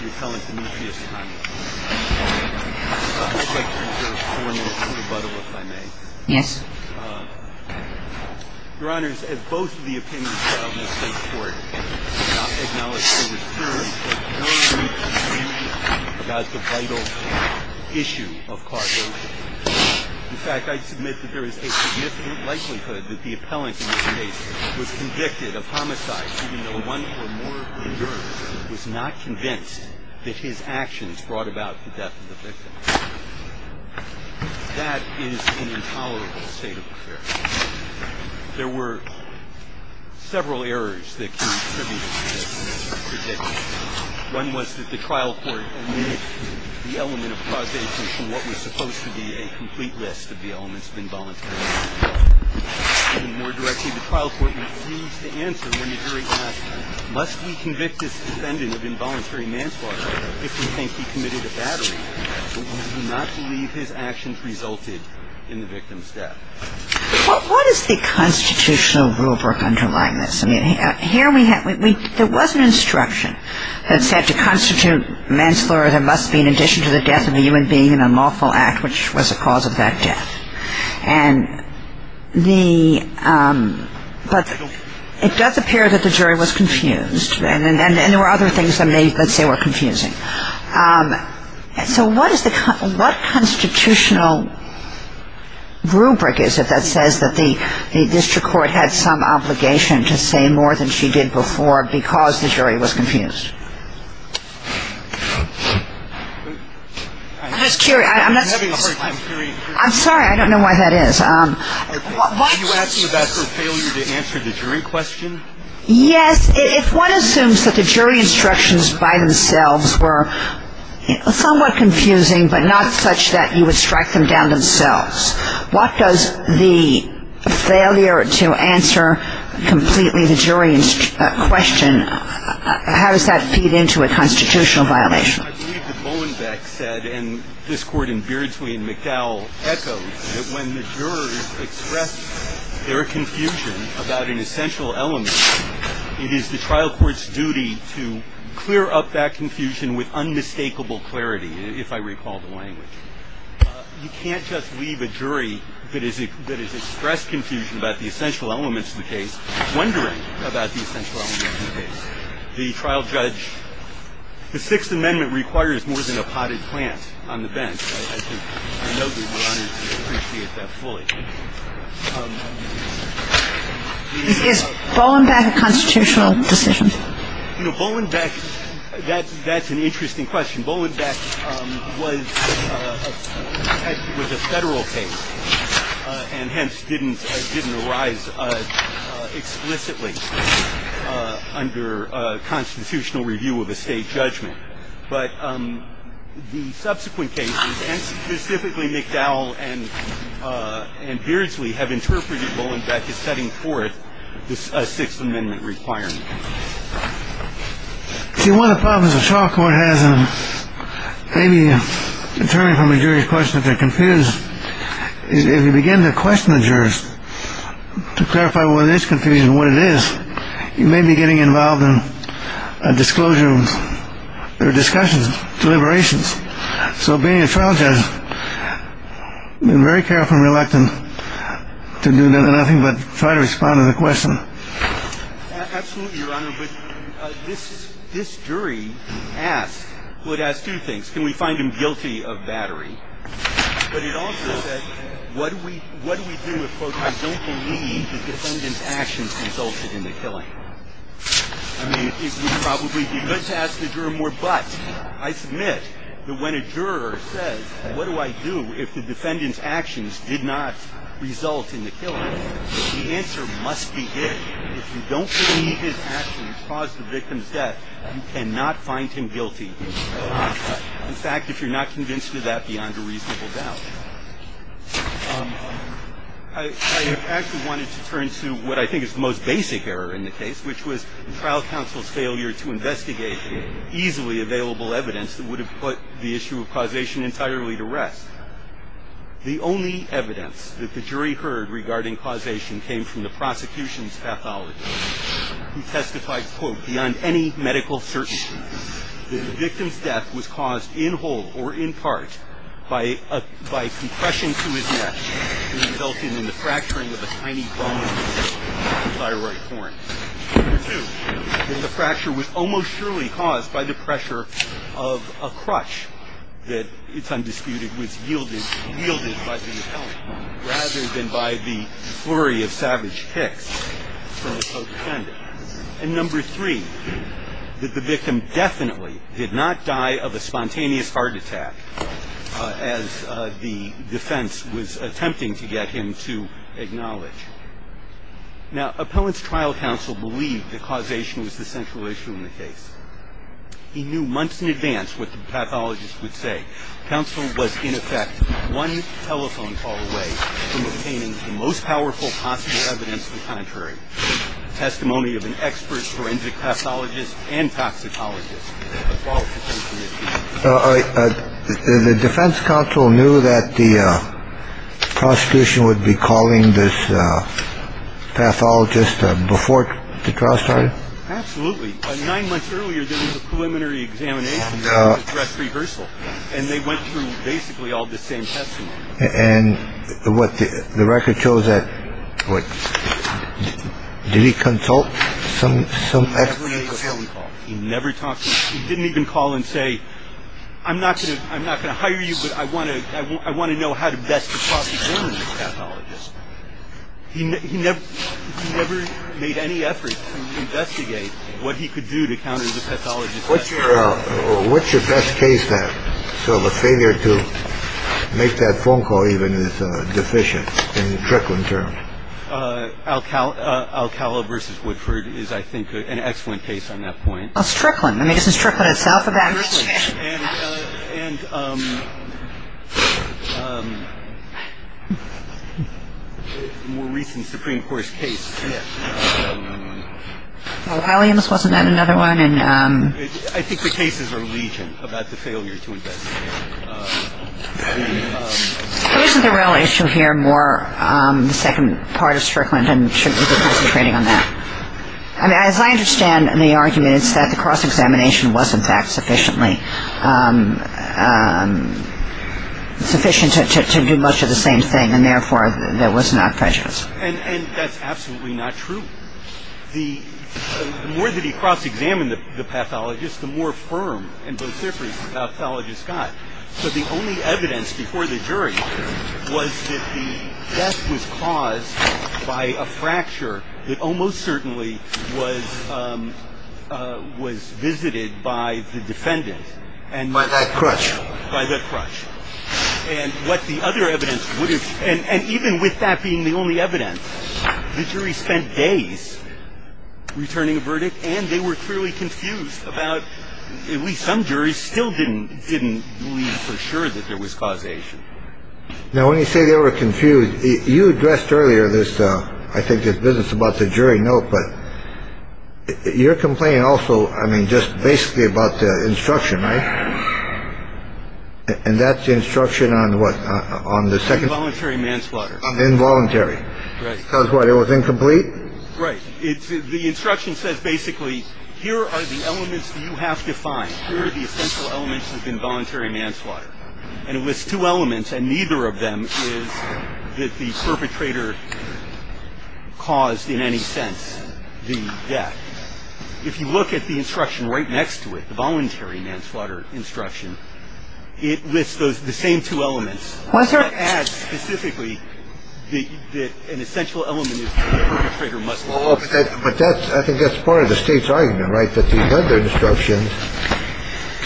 The appellant, Demetrius Connelly. I'd like to reserve four minutes for rebuttal, if I may. Yes. Your Honors, as both of the opinions filed in the State Court have acknowledged, there was clearly very weak information about the vital issue of cartels. In fact, I submit that there is a significant likelihood that the appellant in this case was convicted of homicide, even though one or more of the jurors was not convinced that his actions brought about the death of the victim. That is an intolerable state of affairs. There were several errors that can be attributed to this. One was that the trial court omitted the element of causation from what was supposed to be a complete list of the elements of involuntary homicide. More directly, the trial court refused to answer when the jury asked, must we convict this defendant of involuntary manslaughter if we think he committed a battery? We do not believe his actions resulted in the victim's death. What is the constitutional rulebook underlying this? I mean, here we have – there was an instruction that said to constitute manslaughter, there must be in addition to the death of a human being an unlawful act, which was a cause of that death. And the – but it does appear that the jury was confused, and there were other things that they were confusing. So what is the – what constitutional rubric is it that says that the district court had some obligation to say more than she did before because the jury was confused? I'm just curious. I'm not – I'm sorry, I don't know why that is. Are you asking about her failure to answer the jury question? Yes. If one assumes that the jury instructions by themselves were somewhat confusing but not such that you would strike them down themselves, what does the failure to answer completely the jury question – how does that fit in? How does that feed into a constitutional violation? I believe that Bowen Beck said, and this Court in Beardsley and McDowell echoed, that when the jurors express their confusion about an essential element, it is the trial court's duty to clear up that confusion with unmistakable clarity, if I recall the language. You can't just leave a jury that has expressed confusion about the essential elements of the case wondering about the essential elements of the case. The trial judge – the Sixth Amendment requires more than a potted plant on the bench. I think I know that Your Honor would appreciate that fully. Is Bowen Beck a constitutional decision? You know, Bowen Beck – that's an interesting question. Bowen Beck was a federal case and hence didn't arise explicitly under constitutional review of a state judgment. But the subsequent cases, and specifically McDowell and Beardsley, have interpreted Bowen Beck as setting forth a Sixth Amendment requirement. See, one of the problems the trial court has in maybe determining from a jury's question if they're confused is if you begin to question the jurors to clarify what is confusion and what it is, you may be getting involved in a disclosure of their discussions, deliberations. So being a trial judge, I'm very careful and reluctant to do nothing but try to respond to the question. Absolutely, Your Honor. But this jury asked – well, it asked two things. Can we find him guilty of battery? But it also said, what do we do if, quote, I don't believe the defendant's actions resulted in the killing? I mean, it would probably be good to ask the juror more, but I submit that when a juror says, what do I do if the defendant's actions did not result in the killing, the answer must be yes. If you don't believe his actions caused the victim's death, you cannot find him guilty. In fact, if you're not convinced of that, beyond a reasonable doubt. I actually wanted to turn to what I think is the most basic error in the case, which was the trial counsel's failure to investigate the easily available evidence that would have put the issue of causation entirely to rest. The only evidence that the jury heard regarding causation came from the prosecution's pathologist, who testified, quote, beyond any medical certainty that the victim's death was caused in whole or in part by a – by compression to his neck, which resulted in the fracturing of a tiny bone in his thyroid corn. Number two, that the fracture was almost surely caused by the pressure of a crutch that, it's undisputed, was yielded by the appellant, rather than by the flurry of savage kicks from the co-defendant. And number three, that the victim definitely did not die of a spontaneous heart attack as the defense was attempting to get him to acknowledge. Now, appellant's trial counsel believed that causation was the central issue in the case. He knew months in advance what the pathologist would say. Counsel was, in effect, one telephone call away from obtaining the most powerful possible evidence to the contrary, testimony of an expert forensic pathologist and toxicologist. The defense counsel knew that the prosecution would be calling this pathologist before the trial started? Absolutely. Nine months earlier, there was a preliminary examination, a dress rehearsal, and they went through basically all the same testimony. And what, the record shows that, what, did he consult some expert? He never made a telephone call. He never talked to – he didn't even call and say, I'm not going to hire you, but I want to know how to best prosecute this pathologist. He never made any effort to investigate what he could do to counter the pathologist. What's your best case then? So the failure to make that phone call even is deficient in the trickling term. Alcala versus Woodford is, I think, an excellent case on that point. Well, it's trickling. I mean, isn't trickling itself a bad case? It's trickling. And a more recent Supreme Court case. Well, Williams wasn't that another one? I think the cases are legion about the failure to investigate. Isn't the real issue here more the second part of trickling, and shouldn't we be concentrating on that? I mean, as I understand the argument, it's that the cross-examination was, in fact, sufficiently – sufficient to do much of the same thing, and therefore, there was not prejudice. And that's absolutely not true. The more that he cross-examined the pathologist, the more firm and vociferous the pathologist got. The only evidence before the jury was that the death was caused by a fracture that almost certainly was visited by the defendant. By that crutch. By that crutch. And what the other evidence would have – and even with that being the only evidence, the jury spent days returning a verdict, and they were clearly confused about – at least some juries still didn't didn't believe for sure that there was causation. Now, when you say they were confused, you addressed earlier this. I think it's business about the jury. No. But you're complaining also. I mean, just basically about the instruction. And that's the instruction on what? On the second voluntary manslaughter. Involuntary. Because what? It was incomplete. Right. The instruction says basically, here are the elements you have to find. Here are the essential elements of involuntary manslaughter. And it lists two elements, and neither of them is that the perpetrator caused in any sense the death. If you look at the instruction right next to it, the voluntary manslaughter instruction, it lists the same two elements. Why is there a – It adds specifically that an essential element is the perpetrator must – But that's – I think that's part of the State's argument, right, that the other instructions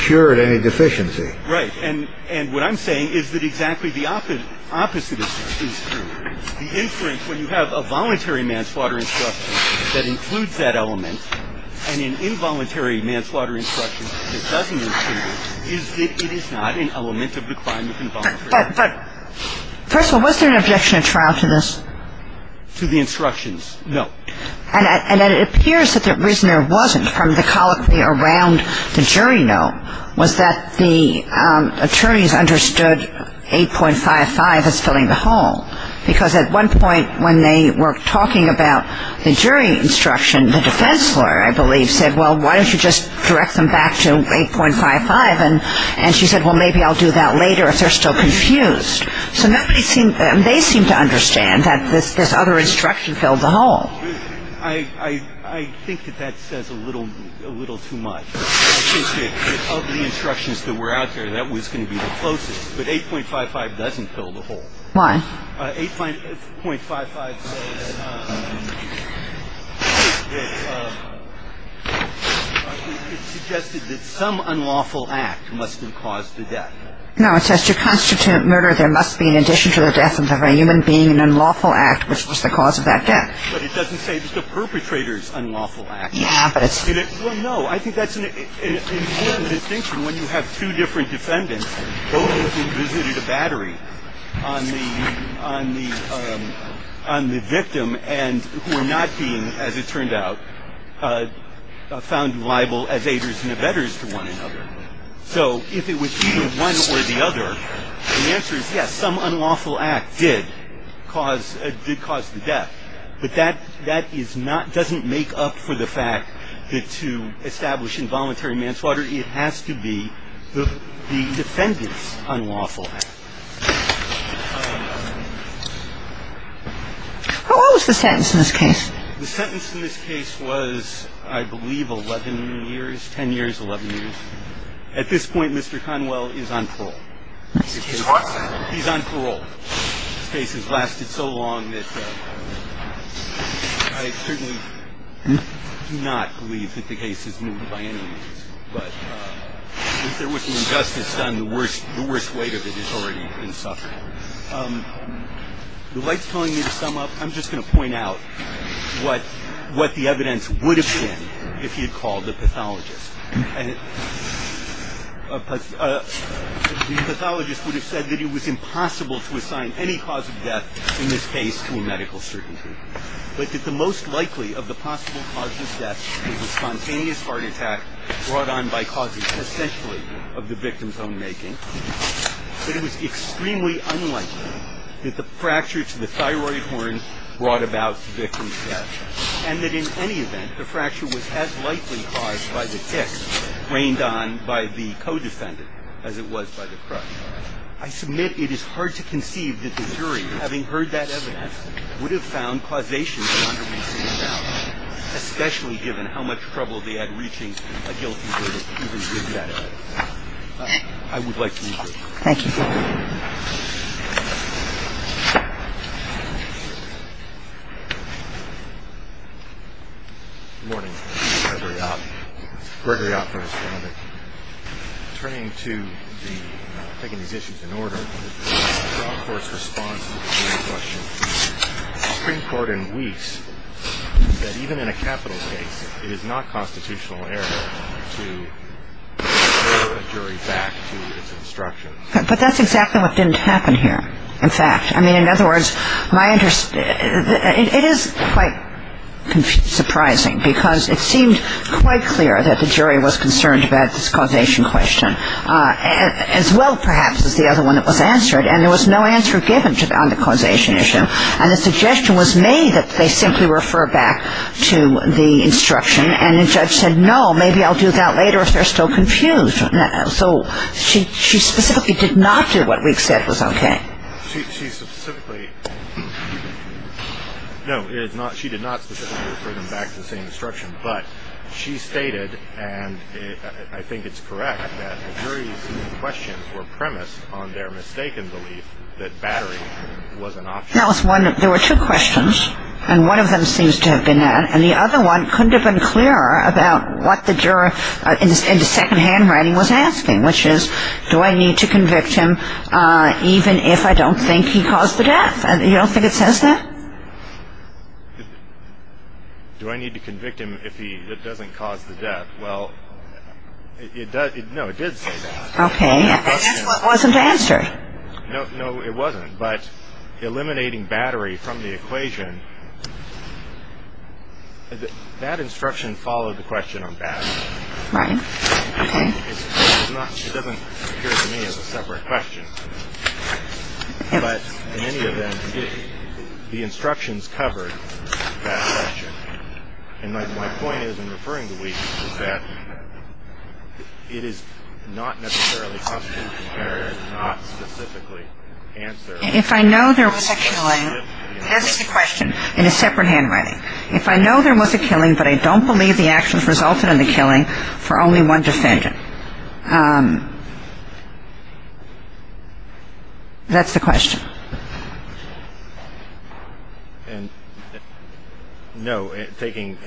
cured any deficiency. Right. And what I'm saying is that exactly the opposite is true. The inference when you have a voluntary manslaughter instruction that includes that element and an involuntary manslaughter instruction that doesn't include it, it is not an element of the crime of involuntary manslaughter. But first of all, was there an objection to trial to this? To the instructions, no. And it appears that the reason there wasn't from the colloquy around the jury note was that the attorneys understood 8.55 as filling the hole. Because at one point when they were talking about the jury instruction, the defense lawyer, I believe, said, well, why don't you just direct them back to 8.55? And she said, well, maybe I'll do that later if they're still confused. So nobody seemed – they seemed to understand that this other instruction filled the hole. I think that that says a little too much. Of the instructions that were out there, that was going to be the closest. But 8.55 doesn't fill the hole. Why? 8.55 says that it suggested that some unlawful act must have caused the death. No, it says to constitute murder, there must be in addition to the death of a human being an unlawful act, which was the cause of that death. But it doesn't say it's the perpetrator's unlawful act. Yeah, but it's – Well, no. I think that's an important distinction when you have two different defendants, both of whom visited a battery on the victim and who were not being, as it turned out, found liable as aiders and abettors to one another. So if it was either one or the other, the answer is yes, some unlawful act did cause the death. But that is not – doesn't make up for the fact that to establish involuntary manslaughter, it has to be the defendant's unlawful act. What was the sentence in this case? The sentence in this case was, I believe, 11 years, 10 years, 11 years. At this point, Mr. Conwell is on parole. He's what? He's on parole. This case has lasted so long that I certainly do not believe that the case is moved by any means. But if there wasn't justice done, the worst weight of it has already been suffered. The light's telling me to sum up. I'm just going to point out what the evidence would have been if he had called the pathologist. The pathologist would have said that it was impossible to assign any cause of death in this case to a medical certainty, but that the most likely of the possible causes of death was a spontaneous heart attack brought on by causes essentially of the victim's own making, that it was extremely unlikely that the fracture to the thyroid horn brought about the victim's death, and that in any event, the fracture was as likely caused by the tick rained on by the co-defendant as it was by the crutch. I submit it is hard to conceive that the jury, having heard that evidence, would have found causation for underreasoned doubt, especially given how much trouble they had reaching a guilty verdict even with that evidence. I would like to conclude. Thank you. Good morning. Gregory Oppler. Turning to taking these issues in order, the Court's response to the jury's question. The Supreme Court in Weeks said even in a capital case, it is not constitutional error to defer a jury back to its instructions. But that's exactly what didn't happen here, in fact. I mean, in other words, it is quite surprising because it seemed quite clear that the jury was concerned about this causation question, as well, perhaps, as the other one that was answered, and there was no answer given on the causation issue. And the suggestion was made that they simply refer back to the instruction, and the judge said, no, maybe I'll do that later if they're still confused. So she specifically did not do what Weeks said was okay. She specifically, no, she did not specifically refer them back to the same instruction, but she stated, and I think it's correct, that the jury's questions were premised on their mistaken belief that battery was an option. That was one. There were two questions, and one of them seems to have been that, and the other one couldn't have been clearer about what the juror in the second handwriting was asking, which is, do I need to convict him even if I don't think he caused the death? You don't think it says that? Do I need to convict him if it doesn't cause the death? Well, no, it did say that. Okay. And that's what wasn't answered. No, it wasn't, but eliminating battery from the equation, that instruction followed the question on battery. Right. Okay. It doesn't appear to me as a separate question, but in any event, the instructions covered that question. And my point is in referring to Weeks is that it is not necessarily possible to compare, not specifically answer. If I know there was a killing, this is the question in a separate handwriting. If I know there was a killing, but I don't believe the actions resulted in the killing for only one defendant. That's the question. And no, taking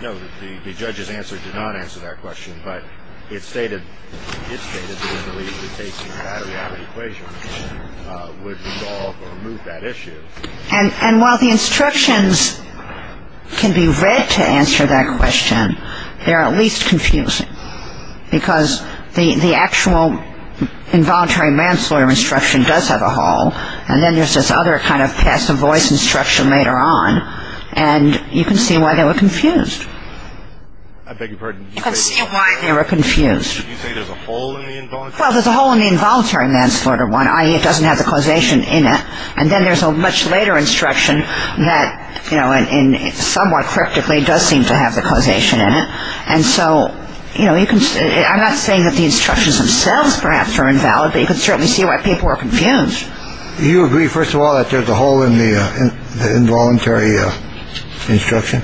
no, the judge's answer did not answer that question, but it stated that taking battery out of the equation would resolve or remove that issue. And while the instructions can be read to answer that question, they're at least confusing, because the actual involuntary manslaughter instruction does have a hole, and then there's this other kind of passive voice instruction later on, and you can see why they were confused. I beg your pardon. You can see why they were confused. Did you say there's a hole in the involuntary manslaughter one? Well, there's a hole in the involuntary manslaughter one, i.e. it doesn't have the causation in it, and then there's a much later instruction that somewhat cryptically does seem to have the causation in it. And so, you know, I'm not saying that the instructions themselves perhaps are invalid, but you can certainly see why people were confused. Do you agree, first of all, that there's a hole in the involuntary instruction?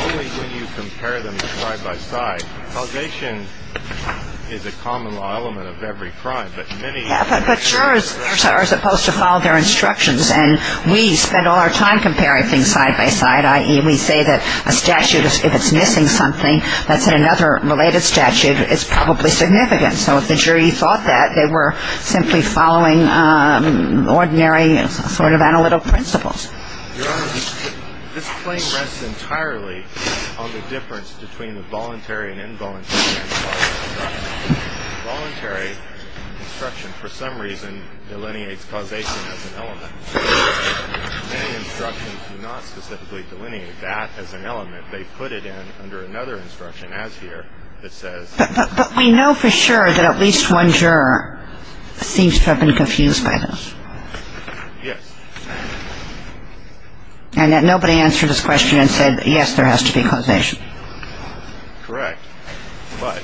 Only when you compare them side by side. Causation is a common law element of every crime. But jurors are supposed to follow their instructions, and we spend all our time comparing things side by side, i.e. we say that a statute, if it's missing something that's in another related statute, it's probably significant. So if the jury thought that, they were simply following ordinary sort of analytical principles. Your Honor, this claim rests entirely on the difference between the voluntary and involuntary manslaughter. The voluntary instruction, for some reason, delineates causation as an element. Many instructions do not specifically delineate that as an element. They put it in under another instruction, as here, that says... But we know for sure that at least one juror seems to have been confused by this. Yes. And that nobody answered his question and said, yes, there has to be causation. Correct. But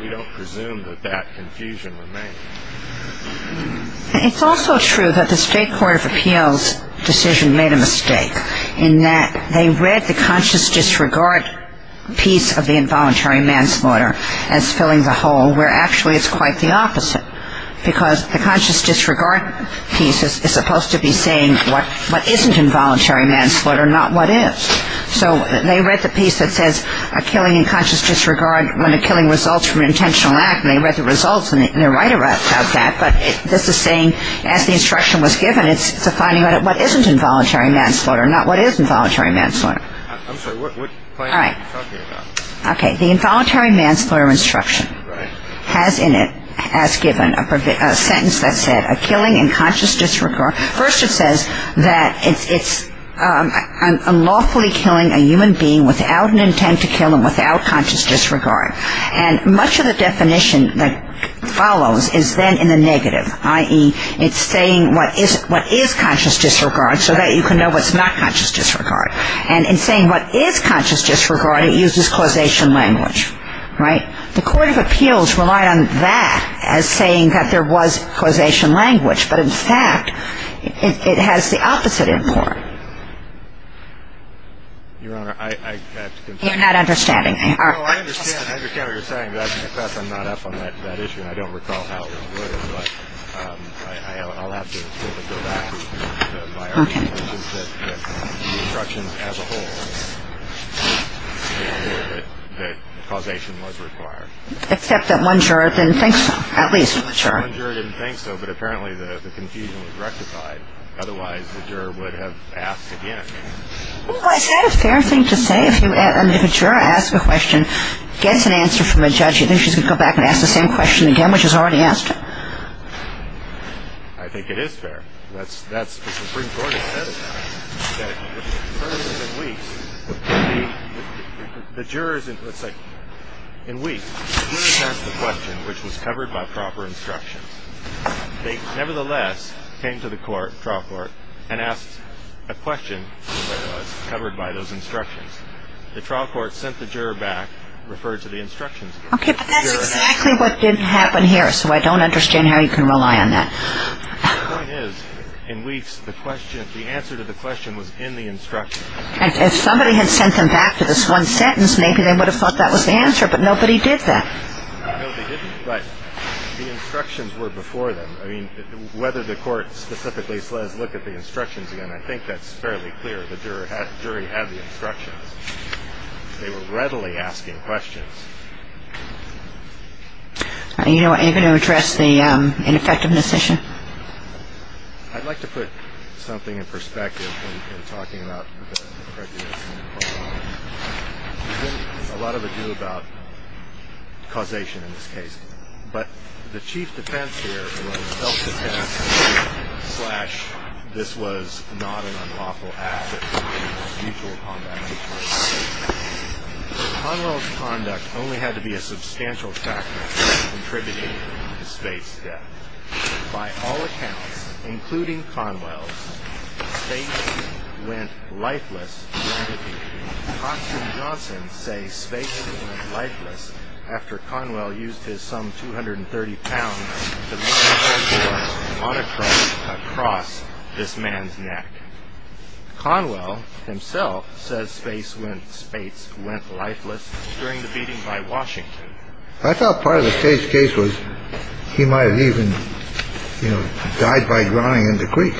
we don't presume that that confusion remains. It's also true that the State Court of Appeals' decision made a mistake in that they read the conscious disregard piece of the involuntary manslaughter as filling the hole, where actually it's quite the opposite. Because the conscious disregard piece is supposed to be saying what isn't involuntary manslaughter, not what is. So they read the piece that says a killing in conscious disregard when a killing results from an intentional act, and they read the results and they're right about that. But this is saying, as the instruction was given, it's defining what isn't involuntary manslaughter, not what is involuntary manslaughter. I'm sorry. What claim are you talking about? Okay. The involuntary manslaughter instruction has in it, as given, a sentence that said, First it says that it's unlawfully killing a human being without an intent to kill him, without conscious disregard. And much of the definition that follows is then in the negative, i.e., it's saying what is conscious disregard so that you can know what's not conscious disregard. And in saying what is conscious disregard, it uses causation language, right? The Court of Appeals relied on that as saying that there was causation language. But, in fact, it has the opposite import. Your Honor, I have to confess. You're not understanding. No, I understand what you're saying. But I have to confess I'm not up on that issue, and I don't recall how it was, but I'll have to go back. Okay. Except that one juror didn't think so, at least. One juror didn't think so, but apparently the confusion was rectified. Otherwise, the juror would have asked again. Well, is that a fair thing to say? If a juror asks a question, gets an answer from a judge, you think she's going to go back and ask the same question again, which is already asked? I think it is fair. That's what the Supreme Court has said. The jurors, in weeks, the jurors asked a question which was covered by proper instructions. They, nevertheless, came to the court, trial court, and asked a question that was covered by those instructions. The trial court sent the juror back, referred to the instructions again. Okay, but that's exactly what didn't happen here, so I don't understand how you can rely on that. The point is, in weeks, the question, the answer to the question was in the instructions. If somebody had sent them back to this one sentence, maybe they would have thought that was the answer, but nobody did that. No, they didn't, but the instructions were before them. I mean, whether the court specifically says look at the instructions again, I think that's fairly clear. The jury had the instructions. They were readily asking questions. Are you going to address the ineffectiveness issue? I'd like to put something in perspective in talking about the prejudice. There's a lot of ado about causation in this case, but the chief defense here was self-defense, slash this was not an unlawful act, mutual combat. Conwell's conduct only had to be a substantial factor in contributing to Spate's death. By all accounts, including Conwell's, Spate went lifeless. Constance Johnson say Spate went lifeless after Conwell used his some 230 pounds across this man's neck. Conwell himself says Spate went lifeless during the beating by Washington. I thought part of the case was he might have even died by drowning in the creek.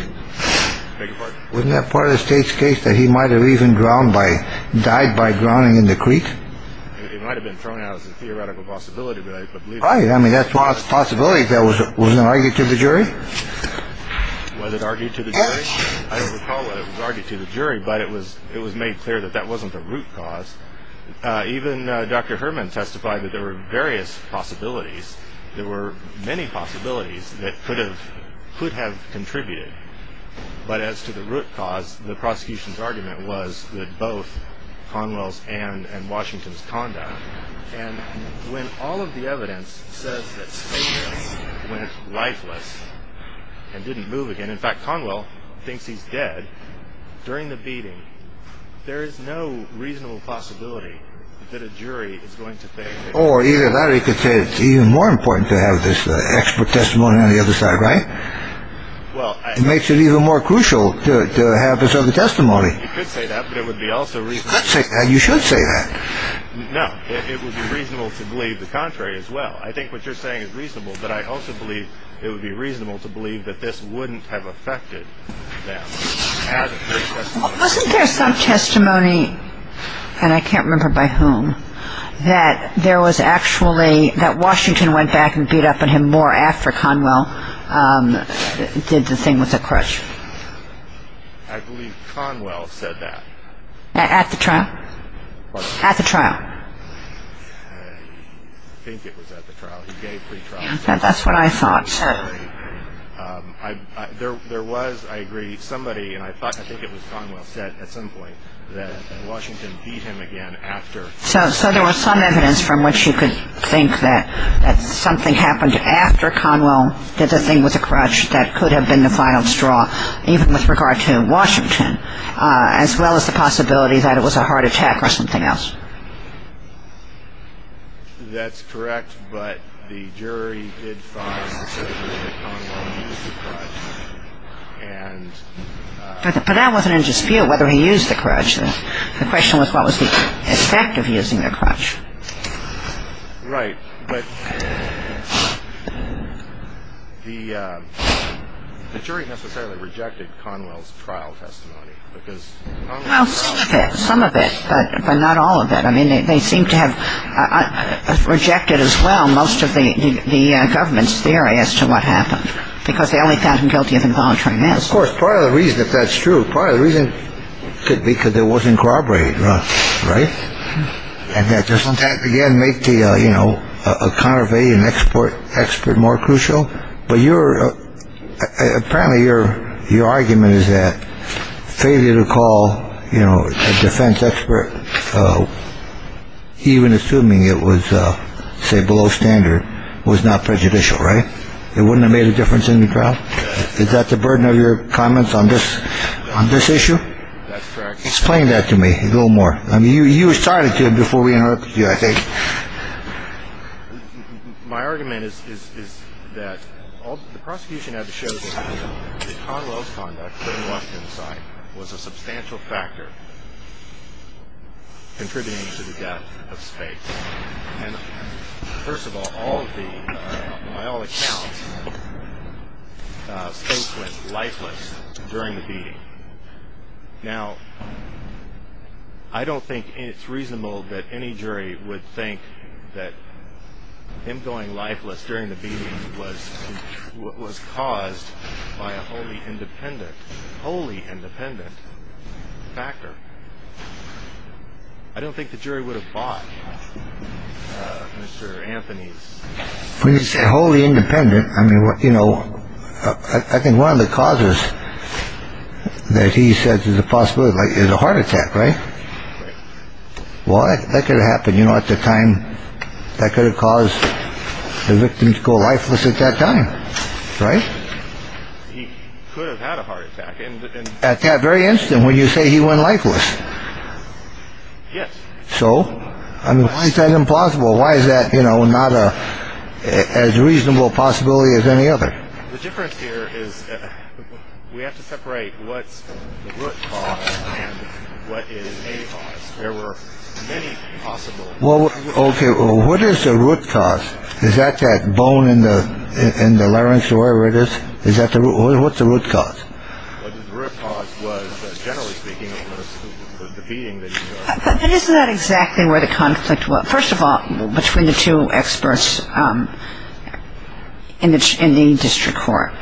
Wasn't that part of the state's case that he might have even drowned by died by drowning in the creek? It might have been thrown out as a theoretical possibility. But I mean, that's one of the possibilities. That was an argument to the jury. Was it argued to the jury? I don't recall whether it was argued to the jury, but it was it was made clear that that wasn't the root cause. Even Dr. Herman testified that there were various possibilities. There were many possibilities that could have could have contributed. But as to the root cause, the prosecution's argument was that both Conwell's and Washington's conduct. And when all of the evidence says that Spate went lifeless and didn't move again. In fact, Conwell thinks he's dead during the beating. There is no reasonable possibility that a jury is going to think. Or either Larry could say it's even more important to have this expert testimony on the other side, right? Well, it makes it even more crucial to have this other testimony. You could say that, but it would be also reasonable. You should say that. No, it would be reasonable to believe the contrary as well. I think what you're saying is reasonable. But I also believe it would be reasonable to believe that this wouldn't have affected them. Wasn't there some testimony, and I can't remember by whom, that there was actually that Washington went back and beat up on him more after Conwell did the thing with the crutch? I believe Conwell said that. At the trial? At the trial. I think it was at the trial. That's what I thought. Certainly. There was, I agree, somebody, and I think it was Conwell, said at some point that Washington beat him again after. So there was some evidence from which you could think that something happened after Conwell did the thing with the crutch that could have been the final straw, even with regard to Washington, as well as the possibility that it was a heart attack or something else. That's correct. But the jury did find specifically that Conwell used the crutch. But that wasn't in dispute whether he used the crutch. The question was what was the effect of using the crutch. Right. But the jury necessarily rejected Conwell's trial testimony. Well, some of it, but not all of it. I mean, they seem to have rejected as well most of the government's theory as to what happened, because they only found him guilty of involuntary manslaughter. Of course, part of the reason that that's true, part of the reason could be because there wasn't corroborated, right? And that doesn't, again, make the, you know, a conurbation expert more crucial. But you're apparently you're your argument is that failure to call, you know, a defense expert, even assuming it was, say, below standard was not prejudicial, right? It wouldn't have made a difference in the trial. Is that the burden of your comments on this on this issue? That's correct. Explain that to me a little more. I mean, you started to before we interrupted you, I think. My argument is that the prosecution had to show that Conwell's conduct, putting Washington aside, was a substantial factor contributing to the death of Space. And first of all, all of the, by all accounts, Space went lifeless during the beating. Now, I don't think it's reasonable that any jury would think that him going lifeless during the beating was what was caused by a wholly independent, wholly independent factor. I don't think the jury would have bought Mr. Anthony's. When you say wholly independent, I mean, you know, I think one of the causes that he says is a possibility is a heart attack. Right. Well, that could happen. You know, at the time that could have caused the victims go lifeless at that time. Right. He could have had a heart attack at that very instant when you say he went lifeless. Yes. So I mean, why is that impossible? Why is that not as reasonable a possibility as any other? The difference here is we have to separate what's the root cause and what is a cause. There were many possible. Well, OK. What is the root cause? Is that that bone in the in the larynx or whatever it is? Is that the root? What's the root cause? The root cause was, generally speaking, the beating. But isn't that exactly where the conflict was? First of all, between the two experts in the district court.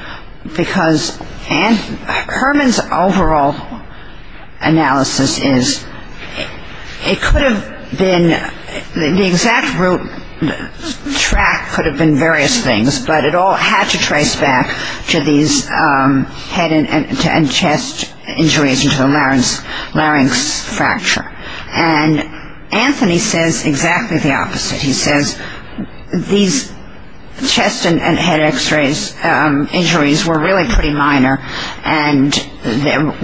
Because Herman's overall analysis is it could have been the exact root track could have been various things, but it all had to trace back to these head and chest injuries and to the larynx fracture. And Anthony says exactly the opposite. He says these chest and head x-rays injuries were really pretty minor and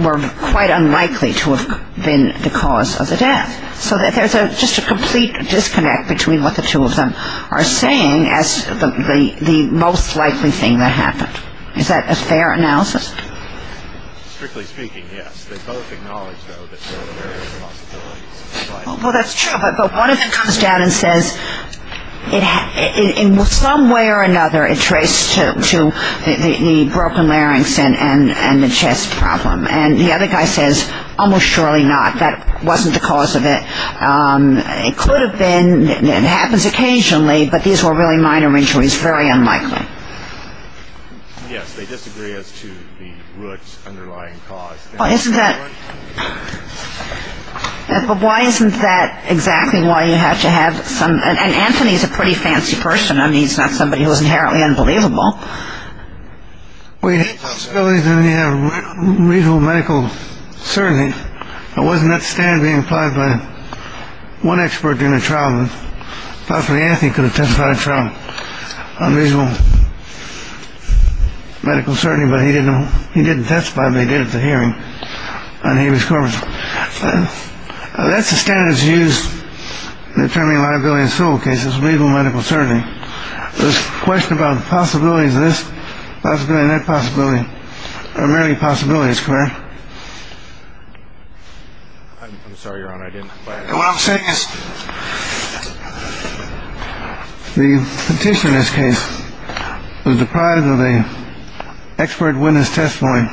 were quite unlikely to have been the cause of the death. So there's just a complete disconnect between what the two of them are saying as the most likely thing that happened. Is that a fair analysis? Strictly speaking, yes. They both acknowledge, though, that there are various possibilities. Well, that's true. But one of them comes down and says in some way or another, it traced to the broken larynx and the chest problem. And the other guy says, almost surely not. That wasn't the cause of it. It could have been. It happens occasionally. But these were really minor injuries, very unlikely. Yes, they disagree as to the root underlying cause. Isn't that why isn't that exactly why you have to have some – and Anthony's a pretty fancy person. I mean, he's not somebody who's inherently unbelievable. Well, we know that he had reasonable medical certainty. It wasn't that standard being applied by one expert in a trial. Hopefully Anthony could have testified trial on reasonable medical certainty. But he didn't. He didn't testify. They did the hearing. And he was covered. That's the standards used in attorney liability in civil cases. Reasonable medical certainty. This question about the possibilities of this possibility, that possibility are merely possibilities. I'm sorry, Your Honor, I didn't. What I'm saying is the petitioner in this case was deprived of a expert witness testimony.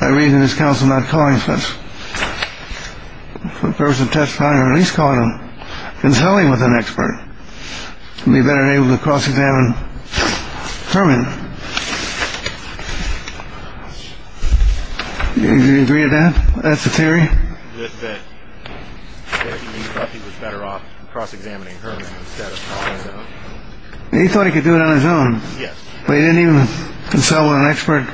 I read in his counsel not calling for a person to testify or at least calling him, consulting with an expert to be better able to cross-examine Herman. Do you agree with that? That's the theory. That he thought he was better off cross-examining Herman instead of calling him. He thought he could do it on his own. Yes. But he didn't even consult with an expert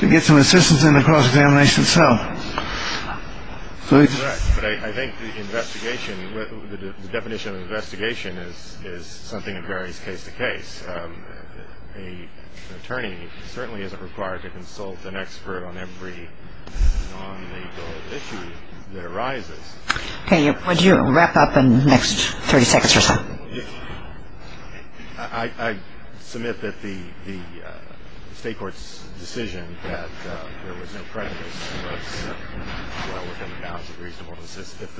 to get some assistance in the cross-examination itself. But I think the investigation, the definition of investigation is something that varies case to case. An attorney certainly isn't required to consult an expert on every non-legal issue that arises. Would you wrap up in the next 30 seconds or so? I submit that the State Court's decision that there was no prejudice was well within the bounds of reasonable assistance.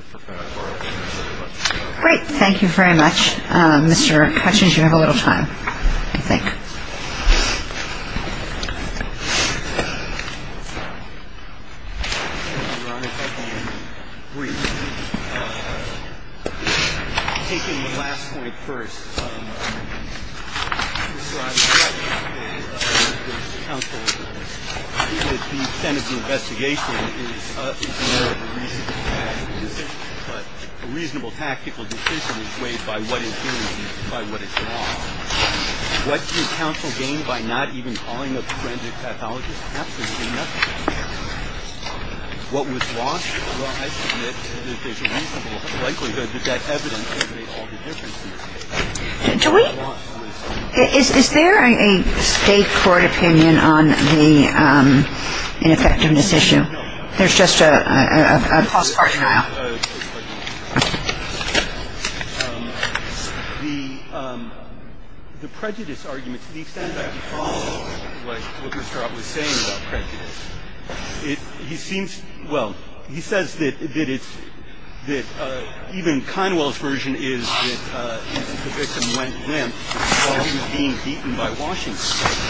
Great. Thank you very much. Mr. Hutchings, you have a little time, I think. Thank you, Your Honor. If I can brief. Taking the last point first. I think that the extent of the investigation is more of a reasonable tactical decision, but a reasonable tactical decision is weighed by what is gained and by what is lost. What do you counsel gain by not even calling a forensic pathologist? Absolutely nothing. What was lost? Well, I submit that there's a reasonable likelihood that that evidence could make all the difference. Do we? Is there a State Court opinion on the ineffectiveness issue? There's just a cross-party aisle. The prejudice argument, to the extent that I can follow what Mr. Ott was saying about prejudice, he seems, well, he says that even Kinewell's version is that the victim went limp while he was being beaten by Washington,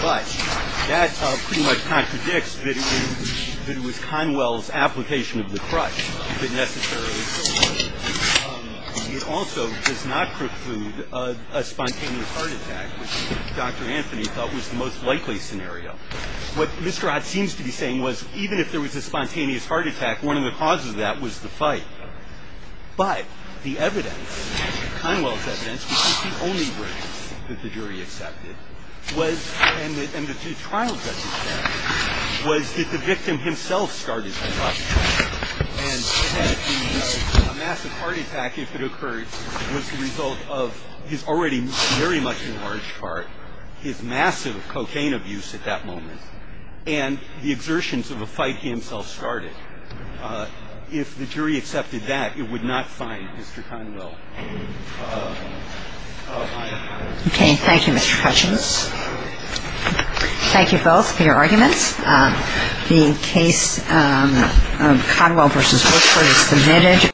but that pretty much contradicts that it was Kinewell's application of the crutch that necessarily killed him. It also does not preclude a spontaneous heart attack, which Dr. Anthony thought was the most likely scenario. What Mr. Ott seems to be saying was even if there was a spontaneous heart attack, one of the causes of that was the fight. But the evidence, Kinewell's evidence, which is the only evidence that the jury accepted was and the trial judge accepted was that the victim himself started the fight. And that the massive heart attack, if it occurred, was the result of his already very much enlarged heart, his massive cocaine abuse at that moment, and the exertions of a fight he himself started. If the jury accepted that, it would not find Mr. Kinewell. Oh, I apologize. Okay. Thank you, Mr. Hutchins. Thank you both for your arguments. The case of Kinewell v. Wilkford is submitted.